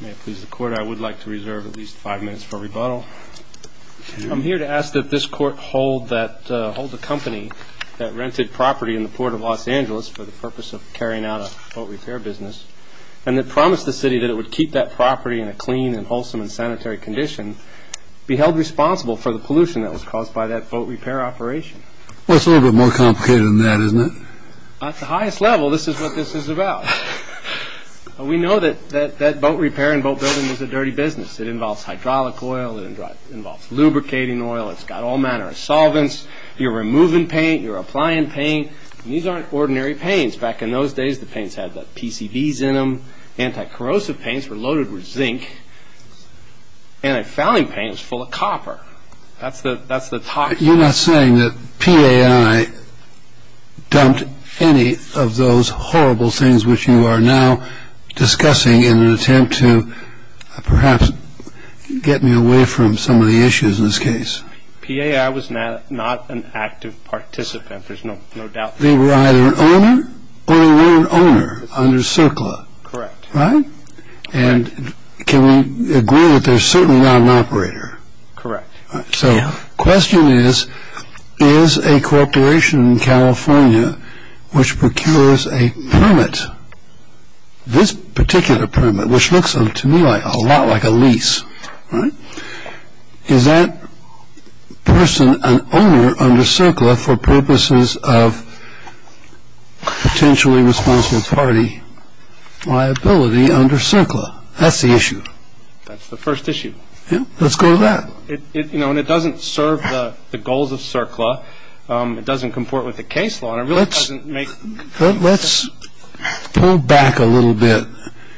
May it please the court, I would like to reserve at least five minutes for rebuttal. I'm here to ask that this court hold the company that rented property in the port of Los Angeles for the purpose of carrying out a boat repair business and that promised the city that it would keep that property in a clean and wholesome and sanitary condition be held responsible for the pollution that was caused by that boat repair operation. Well, it's a little bit more complicated than that, isn't it? At the highest level, this is what this is about. We know that boat repair and boat building was a dirty business. It involves hydraulic oil. It involves lubricating oil. It's got all manner of solvents. You're removing paint. You're applying paint. These aren't ordinary paints. Back in those days, the paints had PCVs in them. Anti-corrosive paints were loaded with zinc. Antifouling paint was full of copper. That's the talk. You're not saying that PAI dumped any of those horrible things which you are now discussing in an attempt to perhaps get me away from some of the issues in this case. PAI was not an active participant. There's no doubt. They were either an owner or a loan owner under CERCLA. Correct. Right? And can we agree that they're certainly not an operator? Correct. So the question is, is a corporation in California which procures a permit, this particular permit which looks to me a lot like a lease, right, is that person an owner under CERCLA for purposes of potentially responsible party liability under CERCLA? That's the issue. That's the first issue. Let's go to that. You know, and it doesn't serve the goals of CERCLA. It doesn't comport with the case law. Let's pull back a little bit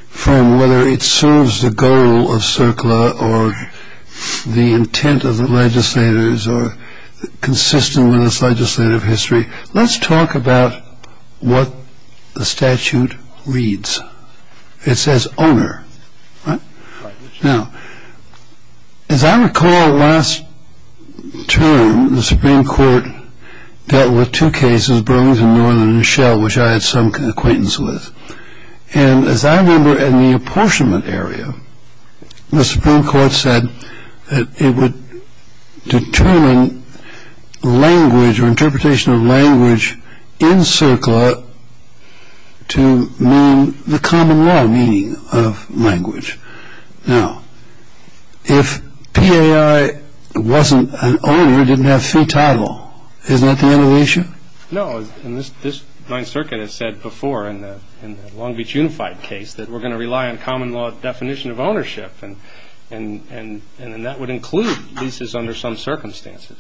from whether it serves the goal of CERCLA or the intent of the legislators or consistent with its legislative history. Let's talk about what the statute reads. It says owner. Now, as I recall last term, the Supreme Court dealt with two cases, Burlington Northern and Shell, which I had some acquaintance with. And as I remember in the apportionment area, the Supreme Court said that it would determine language or interpretation of language in CERCLA to mean the common law meaning of language. Now, if PAI wasn't an owner, didn't have fee title, isn't that the end of the issue? No. And this Ninth Circuit has said before in the Long Beach Unified case that we're going to rely on common law definition of ownership. And that would include leases under some circumstances.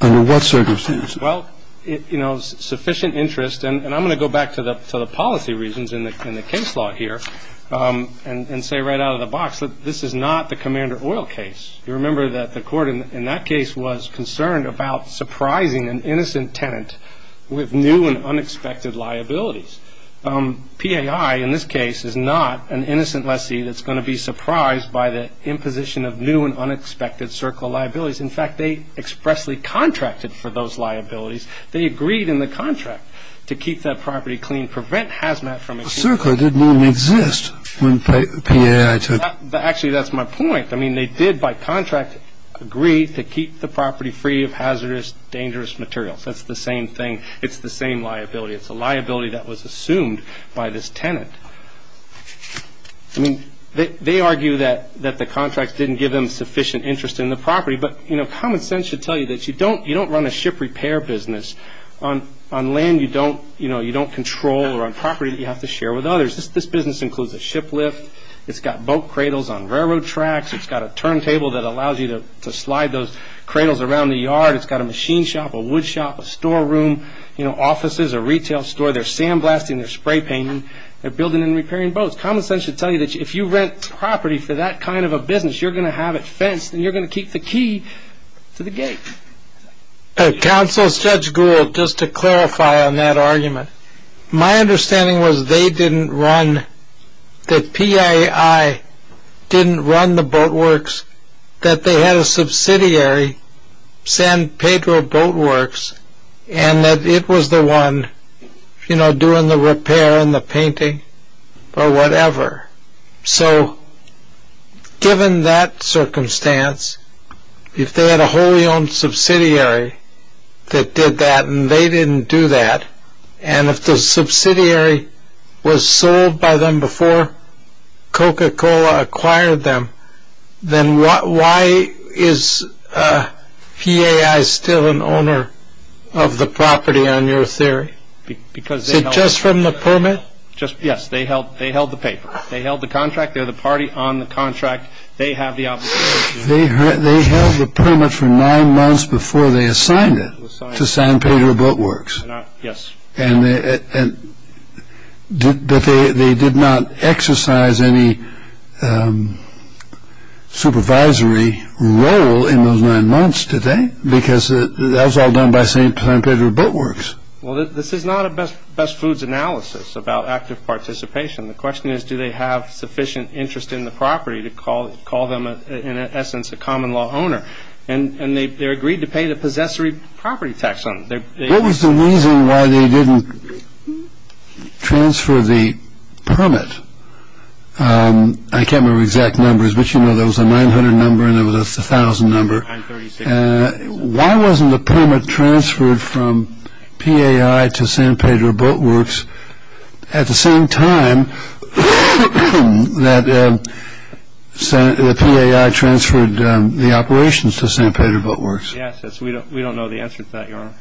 Under what circumstances? Well, you know, sufficient interest. And I'm going to go back to the policy reasons in the case law here and say right out of the box that this is not the Commander Oil case. You remember that the court in that case was concerned about surprising an innocent tenant with new and unexpected liabilities. PAI in this case is not an innocent lessee that's going to be surprised by the imposition of new and unexpected CERCLA liabilities. In fact, they expressly contracted for those liabilities. They agreed in the contract to keep that property clean, prevent hazmat from existing. CERCLA didn't even exist when PAI took over. Actually, that's my point. I mean, they did by contract agree to keep the property free of hazardous, dangerous materials. That's the same thing. It's the same liability. It's a liability that was assumed by this tenant. I mean, they argue that the contract didn't give them sufficient interest in the property. But common sense should tell you that you don't run a ship repair business on land you don't control or on property that you have to share with others. This business includes a ship lift. It's got boat cradles on railroad tracks. It's got a turntable that allows you to slide those cradles around the yard. It's got a machine shop, a wood shop, a storeroom, offices, a retail store. They're sandblasting. They're spray painting. They're building and repairing boats. Common sense should tell you that if you rent property for that kind of a business, you're going to have it fenced and you're going to keep the key to the gate. Counsel, Judge Gould, just to clarify on that argument, my understanding was they didn't run, that PII didn't run the boat works, that they had a subsidiary, San Pedro Boat Works, and that it was the one, you know, doing the repair and the painting or whatever. So given that circumstance, if they had a wholly owned subsidiary that did that and they didn't do that, and if the subsidiary was sold by them before Coca-Cola acquired them, then why is PII still an owner of the property on your theory? Is it just from the permit? Just, yes, they held the paper. They held the contract. They're the party on the contract. They have the obligation. They held the permit for nine months before they assigned it to San Pedro Boat Works. Yes. But they did not exercise any supervisory role in those nine months, did they? Because that was all done by San Pedro Boat Works. Well, this is not a best foods analysis about active participation. The question is do they have sufficient interest in the property to call them, in essence, a common law owner. And they agreed to pay the possessory property tax on it. What was the reason why they didn't transfer the permit? I can't remember exact numbers, but you know there was a 900 number and there was a 1,000 number. Why wasn't the permit transferred from PAI to San Pedro Boat Works at the same time that PAI transferred the operations to San Pedro Boat Works? Yes, we don't know the answer to that, Your Honor.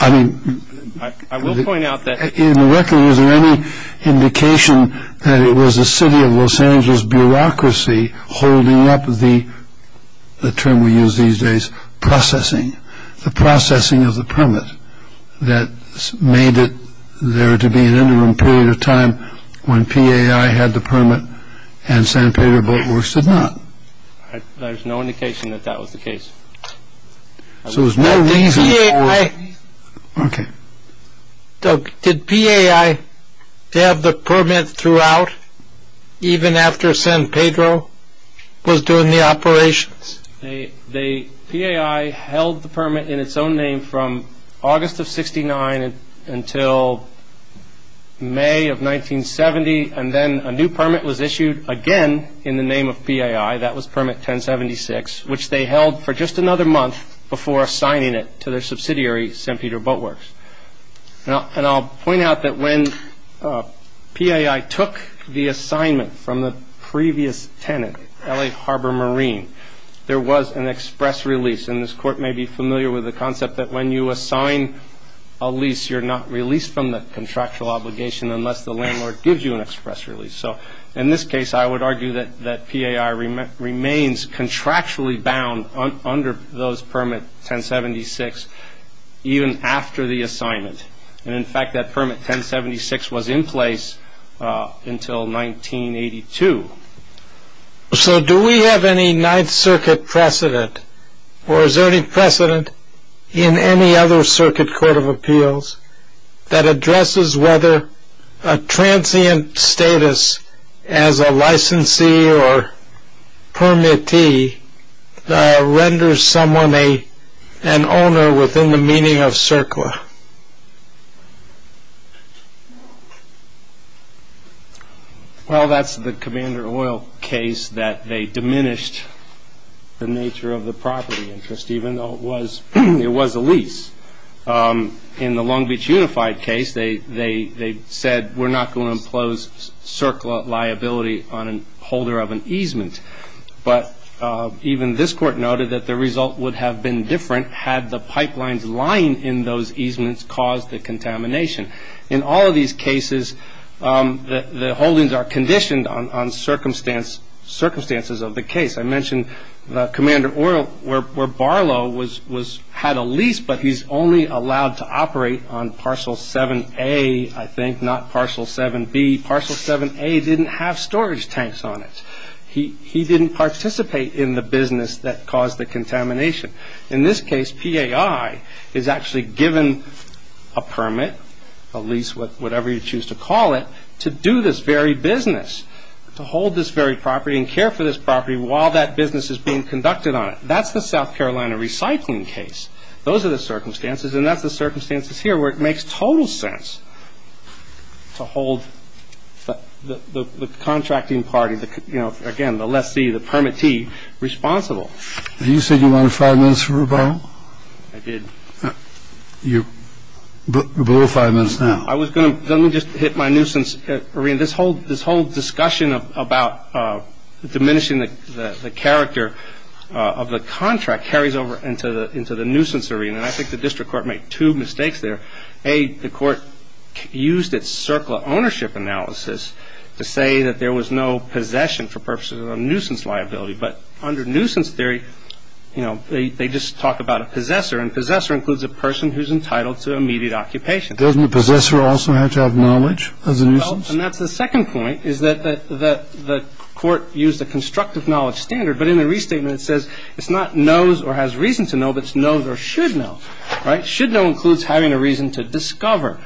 I will point out that in the record, was there any indication that it was the city of Los Angeles bureaucracy holding up the term we use these days, processing, the processing of the permit that made it there to be an interim period of time when PAI had the permit and San Pedro Boat Works did not? There's no indication that that was the case. So there was no reason for... Okay. Did PAI have the permit throughout even after San Pedro was doing the operations? PAI held the permit in its own name from August of 69 until May of 1970 and then a new permit was issued again in the name of PAI, that was permit 1076, which they held for just another month before assigning it to their subsidiary, San Pedro Boat Works. And I'll point out that when PAI took the assignment from the previous tenant, LA Harbor Marine, there was an express release. And this Court may be familiar with the concept that when you assign a lease, you're not released from the contractual obligation unless the landlord gives you an express release. So in this case, I would argue that PAI remains contractually bound under those permit 1076, even after the assignment. And, in fact, that permit 1076 was in place until 1982. So do we have any Ninth Circuit precedent or is there any precedent in any other Circuit Court of Appeals that addresses whether a transient status as a licensee or permittee renders someone an owner within the meaning of CERCLA? Well, that's the Commander Oil case that they diminished the nature of the property interest, even though it was a lease. In the Long Beach Unified case, they said, we're not going to impose CERCLA liability on a holder of an easement. But even this Court noted that the result would have been different had the pipelines lying in those easements caused the contamination. In all of these cases, the holdings are conditioned on circumstances of the case. I mentioned the Commander Oil where Barlow had a lease, but he's only allowed to operate on Parcel 7A, I think, not Parcel 7B. Parcel 7A didn't have storage tanks on it. He didn't participate in the business that caused the contamination. In this case, PAI is actually given a permit, a lease, whatever you choose to call it, to do this very business, to hold this very property and care for this property while that business is being conducted on it. That's the South Carolina recycling case. Those are the circumstances, and that's the circumstances here where it makes total sense to hold the contracting party, again, the lessee, the permittee responsible. You said you wanted five minutes for rebuttal? I did. You're below five minutes now. Let me just hit my nuisance arena. This whole discussion about diminishing the character of the contract carries over into the nuisance arena, and I think the district court made two mistakes there. A, the court used its CERCLA ownership analysis to say that there was no possession for purposes of a nuisance liability, but under nuisance theory, they just talk about a possessor, and possessor includes a person who's entitled to immediate occupation. Doesn't a possessor also have to have knowledge as a nuisance? Well, and that's the second point, is that the court used a constructive knowledge standard, but in the restatement, it says it's not knows or has reason to know, but it's knows or should know. Right? Should know includes having a reason to discover.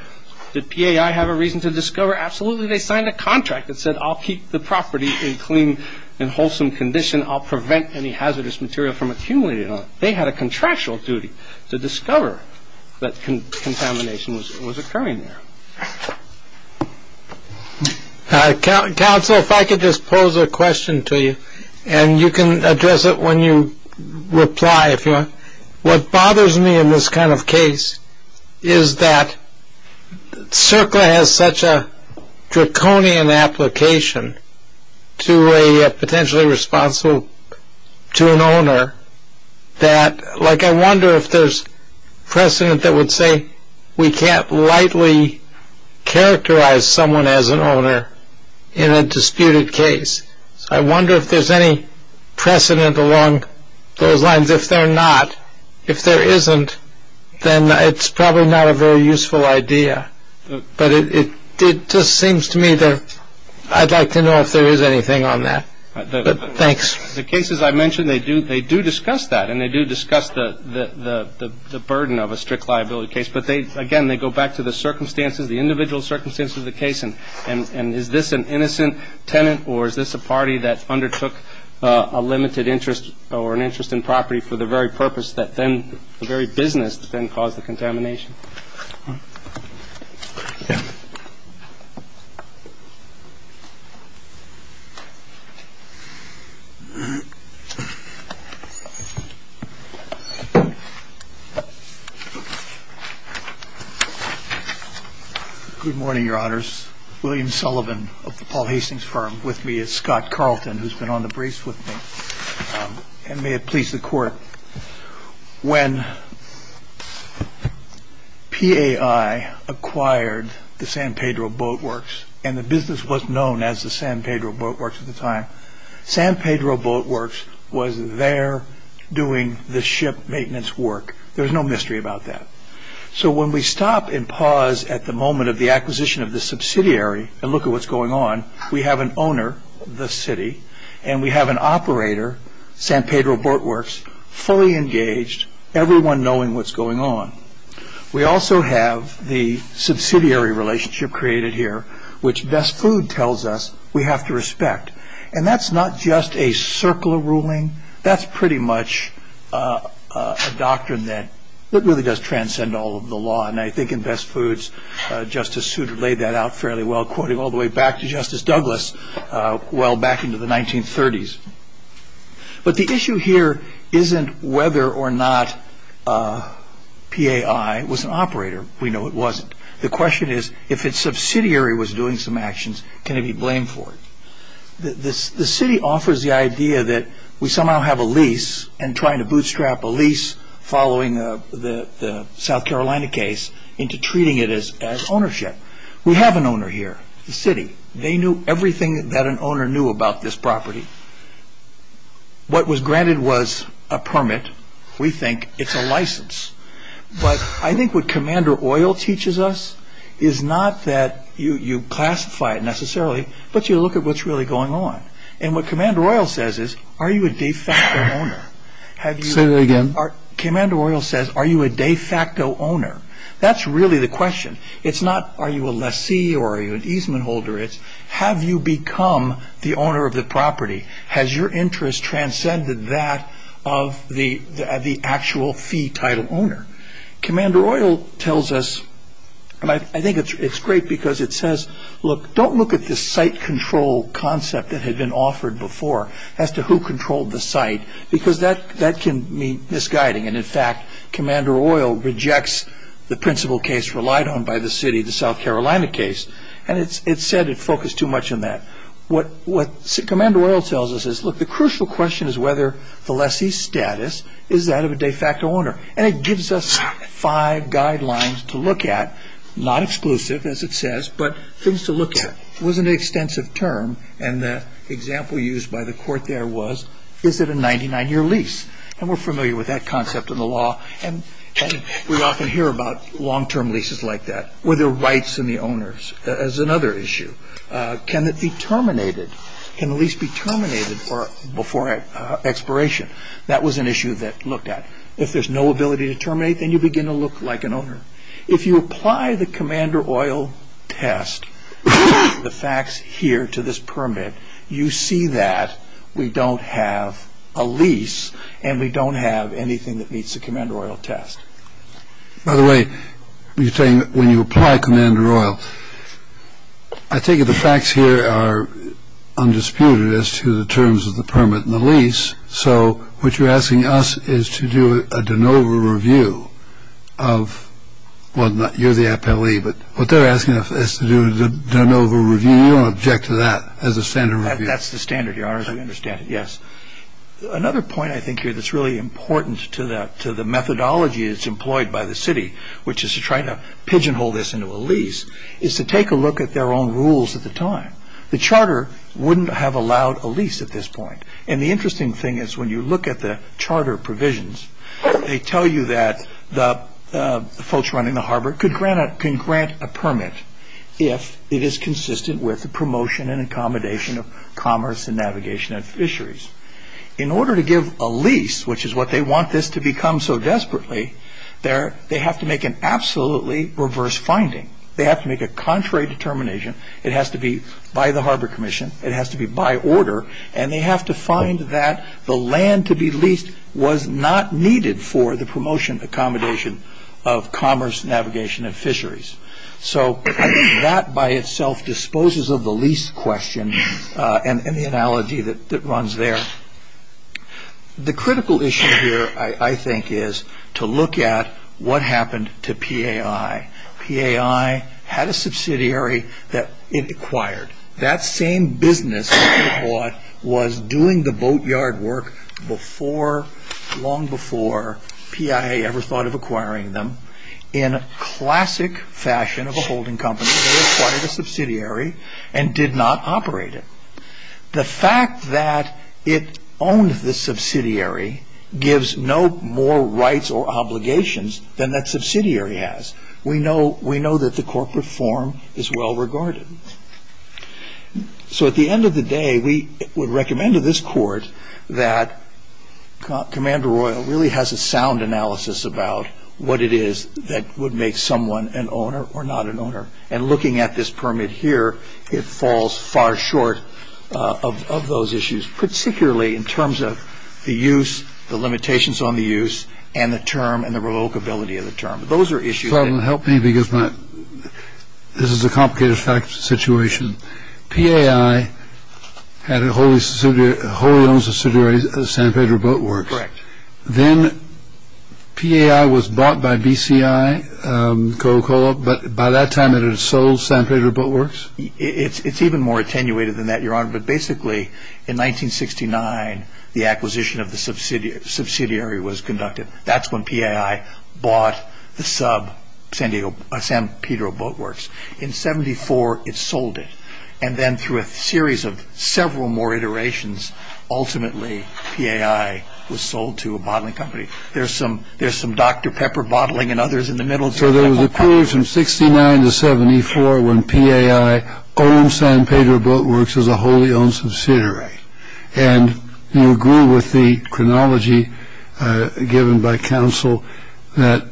Did PAI have a reason to discover? Absolutely. They signed a contract that said I'll keep the property in clean and wholesome condition. I'll prevent any hazardous material from accumulating on it. They had a contractual duty to discover that contamination was occurring there. Counsel, if I could just pose a question to you, and you can address it when you reply if you want. What bothers me in this kind of case is that CERCLA has such a draconian application to a potentially responsible to an owner that, like, I wonder if there's precedent that would say we can't lightly characterize someone as an owner in a disputed case. I wonder if there's any precedent along those lines. If there are not, if there isn't, then it's probably not a very useful idea. But it just seems to me that I'd like to know if there is anything on that. Thanks. The cases I mentioned, they do. They do discuss that and they do discuss the burden of a strict liability case. But they again, they go back to the circumstances, the individual circumstances of the case. And is this an innocent tenant or is this a party that undertook a limited interest or an interest in property for the very purpose that then the very business that then caused the contamination? Yeah. Good morning, Your Honors. William Sullivan of the Paul Hastings firm with me. Scott Carlton, who's been on the brace with me. And may it please the court. When P.A.I. acquired the San Pedro Boatworks and the business was known as the San Pedro Boatworks at the time, San Pedro Boatworks was there doing the ship maintenance work. There is no mystery about that. So when we stop and pause at the moment of the acquisition of the subsidiary and look at what's going on, we have an owner, the city, and we have an operator, San Pedro Boatworks, fully engaged, everyone knowing what's going on. We also have the subsidiary relationship created here, which Best Food tells us we have to respect. And that's not just a circular ruling. That's pretty much a doctrine that really does transcend all of the law. And I think in Best Foods, Justice Souter laid that out fairly well, quoting all the way back to Justice Douglas, well back into the 1930s. But the issue here isn't whether or not P.A.I. was an operator. We know it wasn't. The question is, if its subsidiary was doing some actions, can it be blamed for it? The city offers the idea that we somehow have a lease, and trying to bootstrap a lease following the South Carolina case into treating it as ownership. We have an owner here, the city. They knew everything that an owner knew about this property. What was granted was a permit. We think it's a license. But I think what Commander Oil teaches us is not that you classify it necessarily, but you look at what's really going on. And what Commander Oil says is, are you a de facto owner? Say that again. Commander Oil says, are you a de facto owner? That's really the question. It's not, are you a lessee or are you an easement holder? It's, have you become the owner of the property? Has your interest transcended that of the actual fee title owner? Commander Oil tells us, and I think it's great because it says, look, don't look at this site control concept that had been offered before, as to who controlled the site, because that can mean misguiding. And, in fact, Commander Oil rejects the principal case relied on by the city, the South Carolina case, and it said it focused too much on that. What Commander Oil tells us is, look, the crucial question is whether the lessee's status is that of a de facto owner. And it gives us five guidelines to look at, not exclusive, as it says, but things to look at. It was an extensive term, and the example used by the court there was, is it a 99-year lease? And we're familiar with that concept in the law, and we often hear about long-term leases like that. Were there rights in the owners is another issue. Can it be terminated? Can the lease be terminated before expiration? That was an issue that looked at. If there's no ability to terminate, then you begin to look like an owner. If you apply the Commander Oil test, the facts here to this permit, you see that we don't have a lease, and we don't have anything that meets the Commander Oil test. By the way, you're saying when you apply Commander Oil, I think the facts here are undisputed as to the terms of the permit and the lease, so what you're asking us is to do a de novo review of, well, you're the appellee, but what they're asking us is to do a de novo review, and you don't object to that as a standard review. That's the standard, Your Honor, as we understand it, yes. Another point I think here that's really important to the methodology that's employed by the city, which is to try to pigeonhole this into a lease, is to take a look at their own rules at the time. The charter wouldn't have allowed a lease at this point. And the interesting thing is when you look at the charter provisions, they tell you that the folks running the harbor can grant a permit if it is consistent with the promotion and accommodation of commerce and navigation and fisheries. In order to give a lease, which is what they want this to become so desperately, they have to make an absolutely reverse finding. They have to make a contrary determination. It has to be by the Harbor Commission. It has to be by order, and they have to find that the land to be leased was not needed for the promotion and accommodation of commerce, navigation, and fisheries. So I think that by itself disposes of the lease question and the analogy that runs there. The critical issue here, I think, is to look at what happened to PAI. PAI had a subsidiary that it acquired. That same business that it bought was doing the boatyard work before, long before PIA ever thought of acquiring them. In classic fashion of a holding company, they acquired a subsidiary and did not operate it. The fact that it owned the subsidiary gives no more rights or obligations than that subsidiary has. We know that the corporate form is well regarded. So at the end of the day, we would recommend to this Court that Commander Royal really has a sound analysis about what it is that would make someone an owner or not an owner. And looking at this permit here, it falls far short of those issues, particularly in terms of the use, the limitations on the use, and the term and the relocability of the term. Those are issues. Help me because this is a complicated situation. PAI had a wholly owned subsidiary, San Pedro Boatworks. Correct. Then PAI was bought by BCI, Coca-Cola, but by that time it had sold San Pedro Boatworks? It's even more attenuated than that, Your Honor, but basically in 1969 the acquisition of the subsidiary was conducted. That's when PAI bought the sub San Pedro Boatworks. In 74 it sold it, and then through a series of several more iterations, ultimately PAI was sold to a bottling company. There's some Dr. Pepper bottling and others in the middle. So there was a period from 69 to 74 when PAI owned San Pedro Boatworks as a wholly owned subsidiary. And you agree with the chronology given by counsel that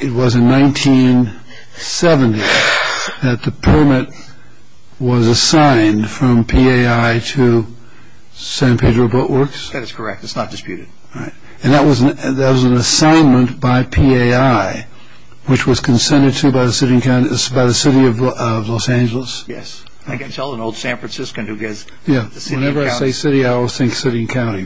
it was in 1970 that the permit was assigned from PAI to San Pedro Boatworks? That is correct. It's not disputed. And that was an assignment by PAI, which was consented to by the city of Los Angeles? Yes. I can tell an old San Franciscan who gets the city and county. Whenever I say city, I always think city and county.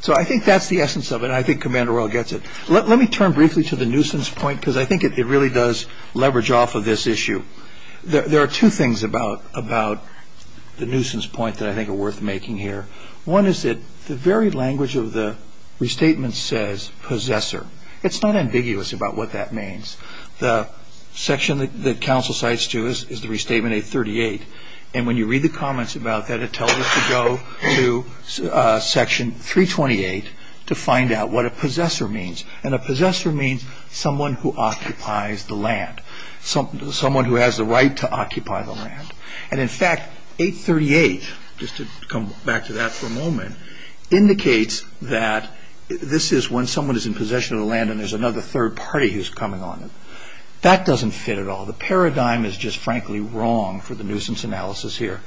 So I think that's the essence of it, and I think Commander Royal gets it. Let me turn briefly to the nuisance point, because I think it really does leverage off of this issue. There are two things about the nuisance point that I think are worth making here. One is that the very language of the restatement says possessor. It's not ambiguous about what that means. The section that counsel cites, too, is the restatement 838. And when you read the comments about that, it tells us to go to section 328 to find out what a possessor means. And a possessor means someone who occupies the land, someone who has the right to occupy the land. And, in fact, 838, just to come back to that for a moment, indicates that this is when someone is in possession of the land and there's another third party who's coming on it. That doesn't fit at all. The paradigm is just, frankly, wrong for the nuisance analysis here.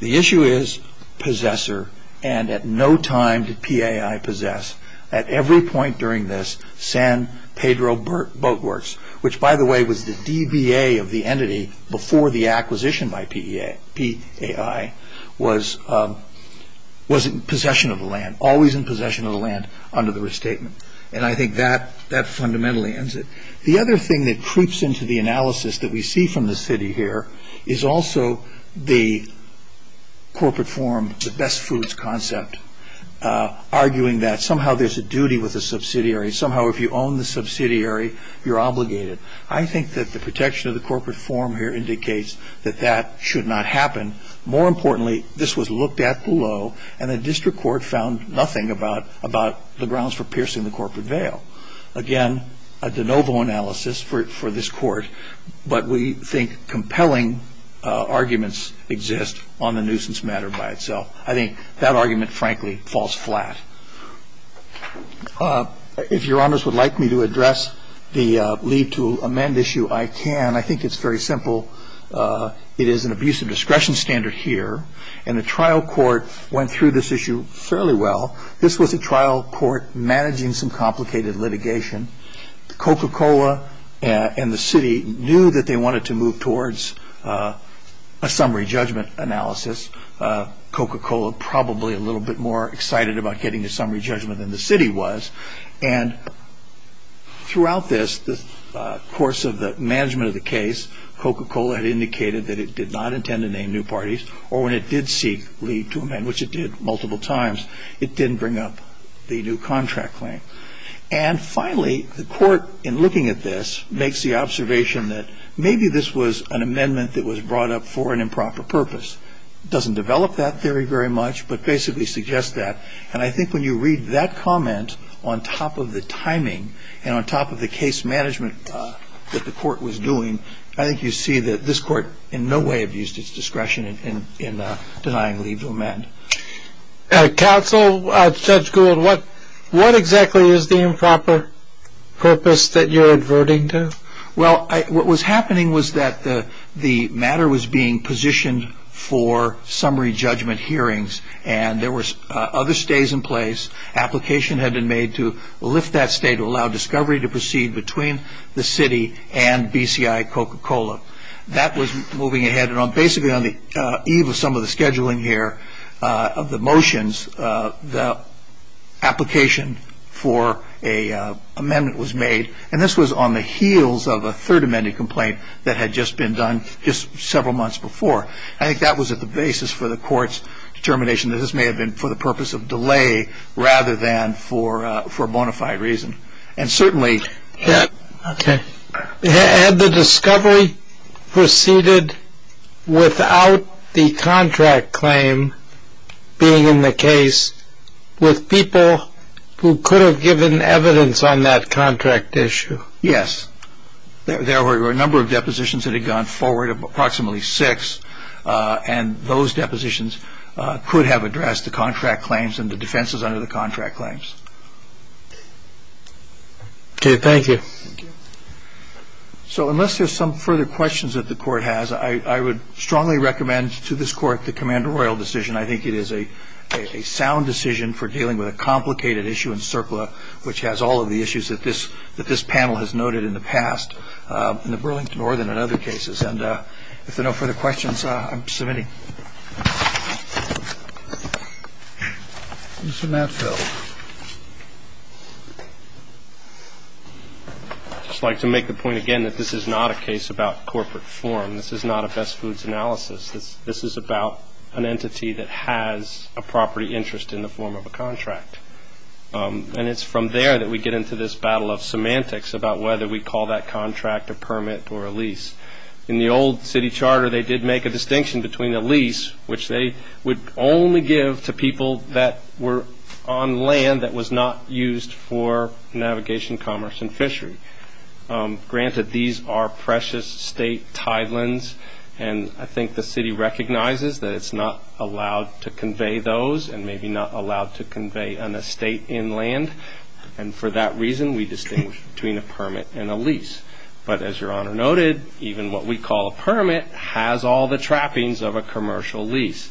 The issue is possessor, and at no time did PAI possess. At every point during this, San Pedro Boatworks, which, by the way, was the DBA of the entity before the acquisition by PAI, was in possession of the land, always in possession of the land under the restatement. And I think that fundamentally ends it. The other thing that creeps into the analysis that we see from the city here is also the corporate forum, the best foods concept, arguing that somehow there's a duty with a subsidiary. Somehow if you own the subsidiary, you're obligated. I think that the protection of the corporate forum here indicates that that should not happen. More importantly, this was looked at below, and the district court found nothing about the grounds for piercing the corporate veil. Again, a de novo analysis for this court, but we think compelling arguments exist on the nuisance matter by itself. I think that argument, frankly, falls flat. If your honors would like me to address the leave to amend issue, I can. I think it's very simple. It is an abuse of discretion standard here, and the trial court went through this issue fairly well. This was a trial court managing some complicated litigation. Coca-Cola and the city knew that they wanted to move towards a summary judgment analysis. Coca-Cola, probably a little bit more excited about getting a summary judgment than the city was, and throughout this, the course of the management of the case, Coca-Cola had indicated that it did not intend to name new parties, or when it did seek leave to amend, which it did multiple times, it didn't bring up the new contract claim. And finally, the court, in looking at this, makes the observation that maybe this was an amendment that was brought up for an improper purpose. It doesn't develop that theory very much, but basically suggests that, and I think when you read that comment on top of the timing and on top of the case management that the court was doing, I think you see that this court in no way abused its discretion in denying leave to amend. Counsel, Judge Gould, what exactly is the improper purpose that you're adverting to? Well, what was happening was that the matter was being positioned for summary judgment hearings, and there were other stays in place, application had been made to lift that stay to allow discovery to proceed between the city and BCI Coca-Cola. That was moving ahead, and basically on the eve of some of the scheduling here of the motions, the application for an amendment was made, and this was on the heels of a third amended complaint that had just been done just several months before. I think that was at the basis for the court's determination that this may have been for the purpose of delay rather than for bona fide reason. Okay. Had the discovery proceeded without the contract claim being in the case with people who could have given evidence on that contract issue? Yes. There were a number of depositions that had gone forward, approximately six, and those depositions could have addressed the contract claims and the defenses under the contract claims. Okay, thank you. Thank you. So unless there's some further questions that the court has, I would strongly recommend to this court the Commander Royal decision. I think it is a sound decision for dealing with a complicated issue in CERCLA, which has all of the issues that this panel has noted in the past in the Burlington nor than in other cases, and if there are no further questions, I'm submitting. Mr. Matfield. I'd just like to make the point again that this is not a case about corporate form. This is not a best foods analysis. This is about an entity that has a property interest in the form of a contract, and it's from there that we get into this battle of semantics about whether we call that contract a permit or a lease. In the old city charter, they did make a distinction between a lease, which they would only give to people that were on land that was not used for navigation, commerce, and fishery. Granted, these are precious state tidelands, and I think the city recognizes that it's not allowed to convey those and maybe not allowed to convey an estate inland, and for that reason we distinguish between a permit and a lease. But as Your Honor noted, even what we call a permit has all the trappings of a commercial lease.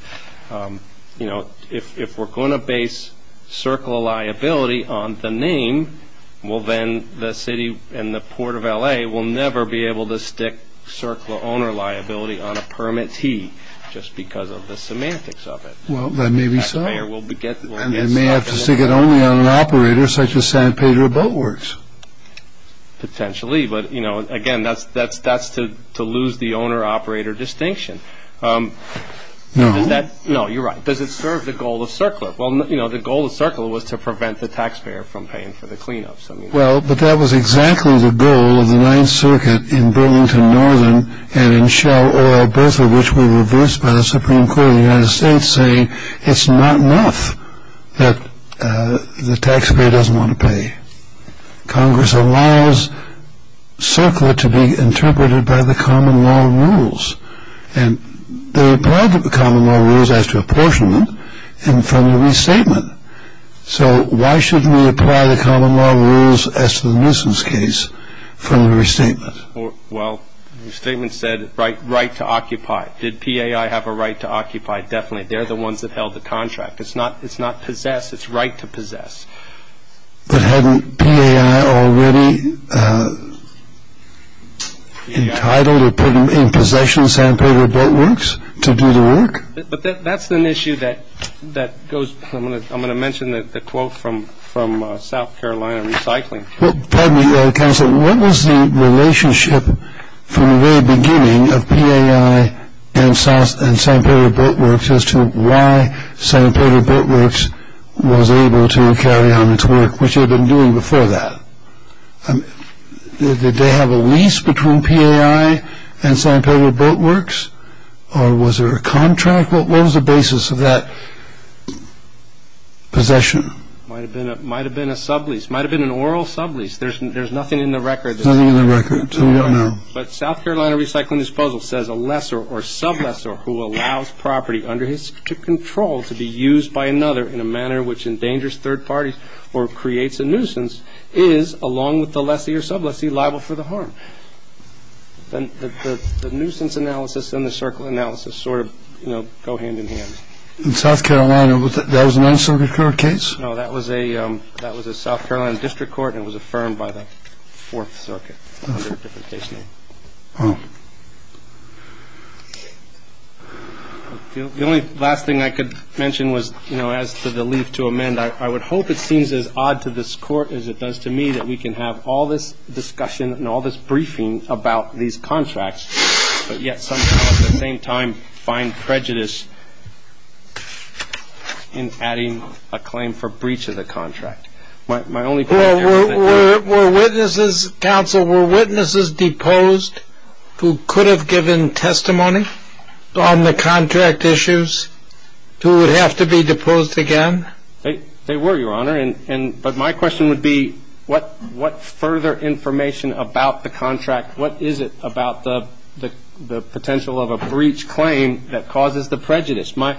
You know, if we're going to base CERCLA liability on the name, well, then the city and the Port of L.A. will never be able to stick CERCLA owner liability on a permit T just because of the semantics of it. Well, that may be so. And they may have to stick it only on an operator such as Santa Pedra Boat Works. Potentially, but, you know, again, that's to lose the owner-operator distinction. No. No, you're right. Does it serve the goal of CERCLA? Well, you know, the goal of CERCLA was to prevent the taxpayer from paying for the cleanups. Well, but that was exactly the goal of the Ninth Circuit in Burlington Northern and in Shell Oil, both of which were reversed by the Supreme Court of the United States, saying it's not enough that the taxpayer doesn't want to pay. Congress allows CERCLA to be interpreted by the common law rules, and they applied the common law rules as to apportionment from the restatement. So why shouldn't we apply the common law rules as to the nuisance case from the restatement? Well, the restatement said right to occupy. Did PAI have a right to occupy? Definitely. They're the ones that held the contract. It's not possess. It's right to possess. But hadn't PAI already entitled or put in possession of Santa Pedra Boat Works to do the work? But that's an issue that goes. I'm going to mention the quote from South Carolina Recycling. Pardon me, counsel. What was the relationship from the very beginning of PAI and Santa Pedra Boat Works as to why Santa Pedra Boat Works was able to carry on its work, which it had been doing before that? Did they have a lease between PAI and Santa Pedra Boat Works, or was there a contract? What was the basis of that possession? It might have been a sublease. It might have been an oral sublease. There's nothing in the record. Nothing in the record. Tell me what I know. But South Carolina Recycling Disposal says a lesser or sublessor who allows property under his control to be used by another in a manner which endangers third parties or creates a nuisance is, along with the lessee or sublessee, liable for the harm. The nuisance analysis and the circle analysis sort of, you know, go hand in hand. In South Carolina, that was a non-circular case? No, that was a South Carolina district court, and it was affirmed by the Fourth Circuit under a different case name. Oh. The only last thing I could mention was, you know, as to the leave to amend. I would hope it seems as odd to this court as it does to me that we can have all this discussion and all this briefing about these contracts, but yet somehow, at the same time, find prejudice in adding a claim for breach of the contract. My only point there is that. Were witnesses, counsel, were witnesses deposed who could have given testimony on the contract issues, who would have to be deposed again? They were, Your Honor. But my question would be, what further information about the contract, what is it about the potential of a breach claim that causes the prejudice? My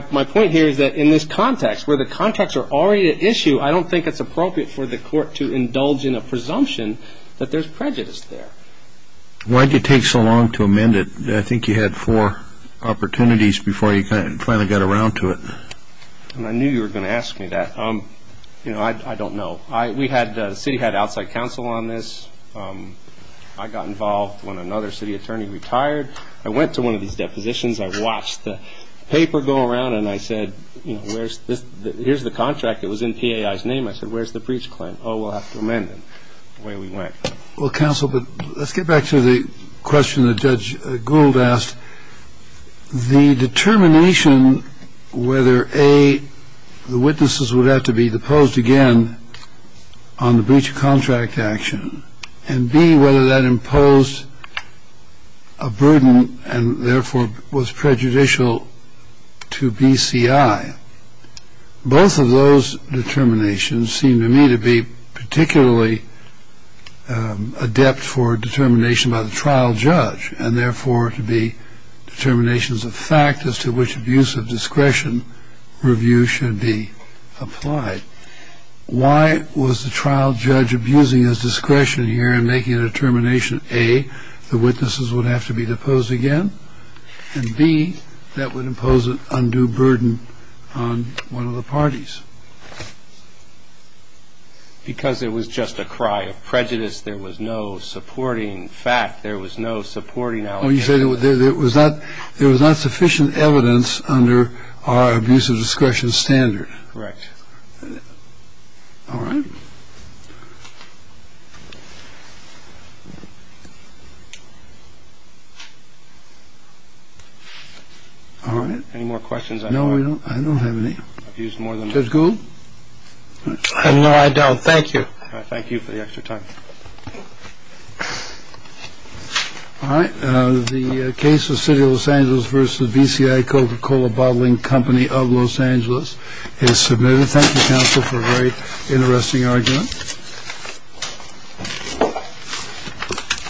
point here is that in this context, where the contracts are already at issue, I don't think it's appropriate for the court to indulge in a presumption that there's prejudice there. Why did it take so long to amend it? I think you had four opportunities before you finally got around to it. I knew you were going to ask me that. You know, I don't know. The city had outside counsel on this. I got involved when another city attorney retired. I went to one of these depositions. I watched the paper go around, and I said, you know, here's the contract. It was in PAI's name. I said, where's the breach claim? Oh, we'll have to amend it. The way we went. Well, counsel, let's get back to the question that Judge Gould asked. The determination whether, A, the witnesses would have to be deposed again on the breach of contract action, and, B, whether that imposed a burden and therefore was prejudicial to BCI, both of those determinations seemed to me to be particularly adept for determination by the trial judge and therefore to be determinations of fact as to which abuse of discretion review should be applied. Why was the trial judge abusing his discretion here in making a determination, A, the witnesses would have to be deposed again, and, B, that would impose an undue burden on one of the parties? Because it was just a cry of prejudice. There was no supporting fact. There was no supporting allegation. Well, you say there was not sufficient evidence under our abuse of discretion standard. Correct. All right. Any more questions? No, I don't have any. Judge Gould? No, I don't. Thank you. Thank you for the extra time. All right. The case of City of Los Angeles v. BCI Coca-Cola Bottling Company of Los Angeles is submitted. Thank you, counsel, for a very interesting argument.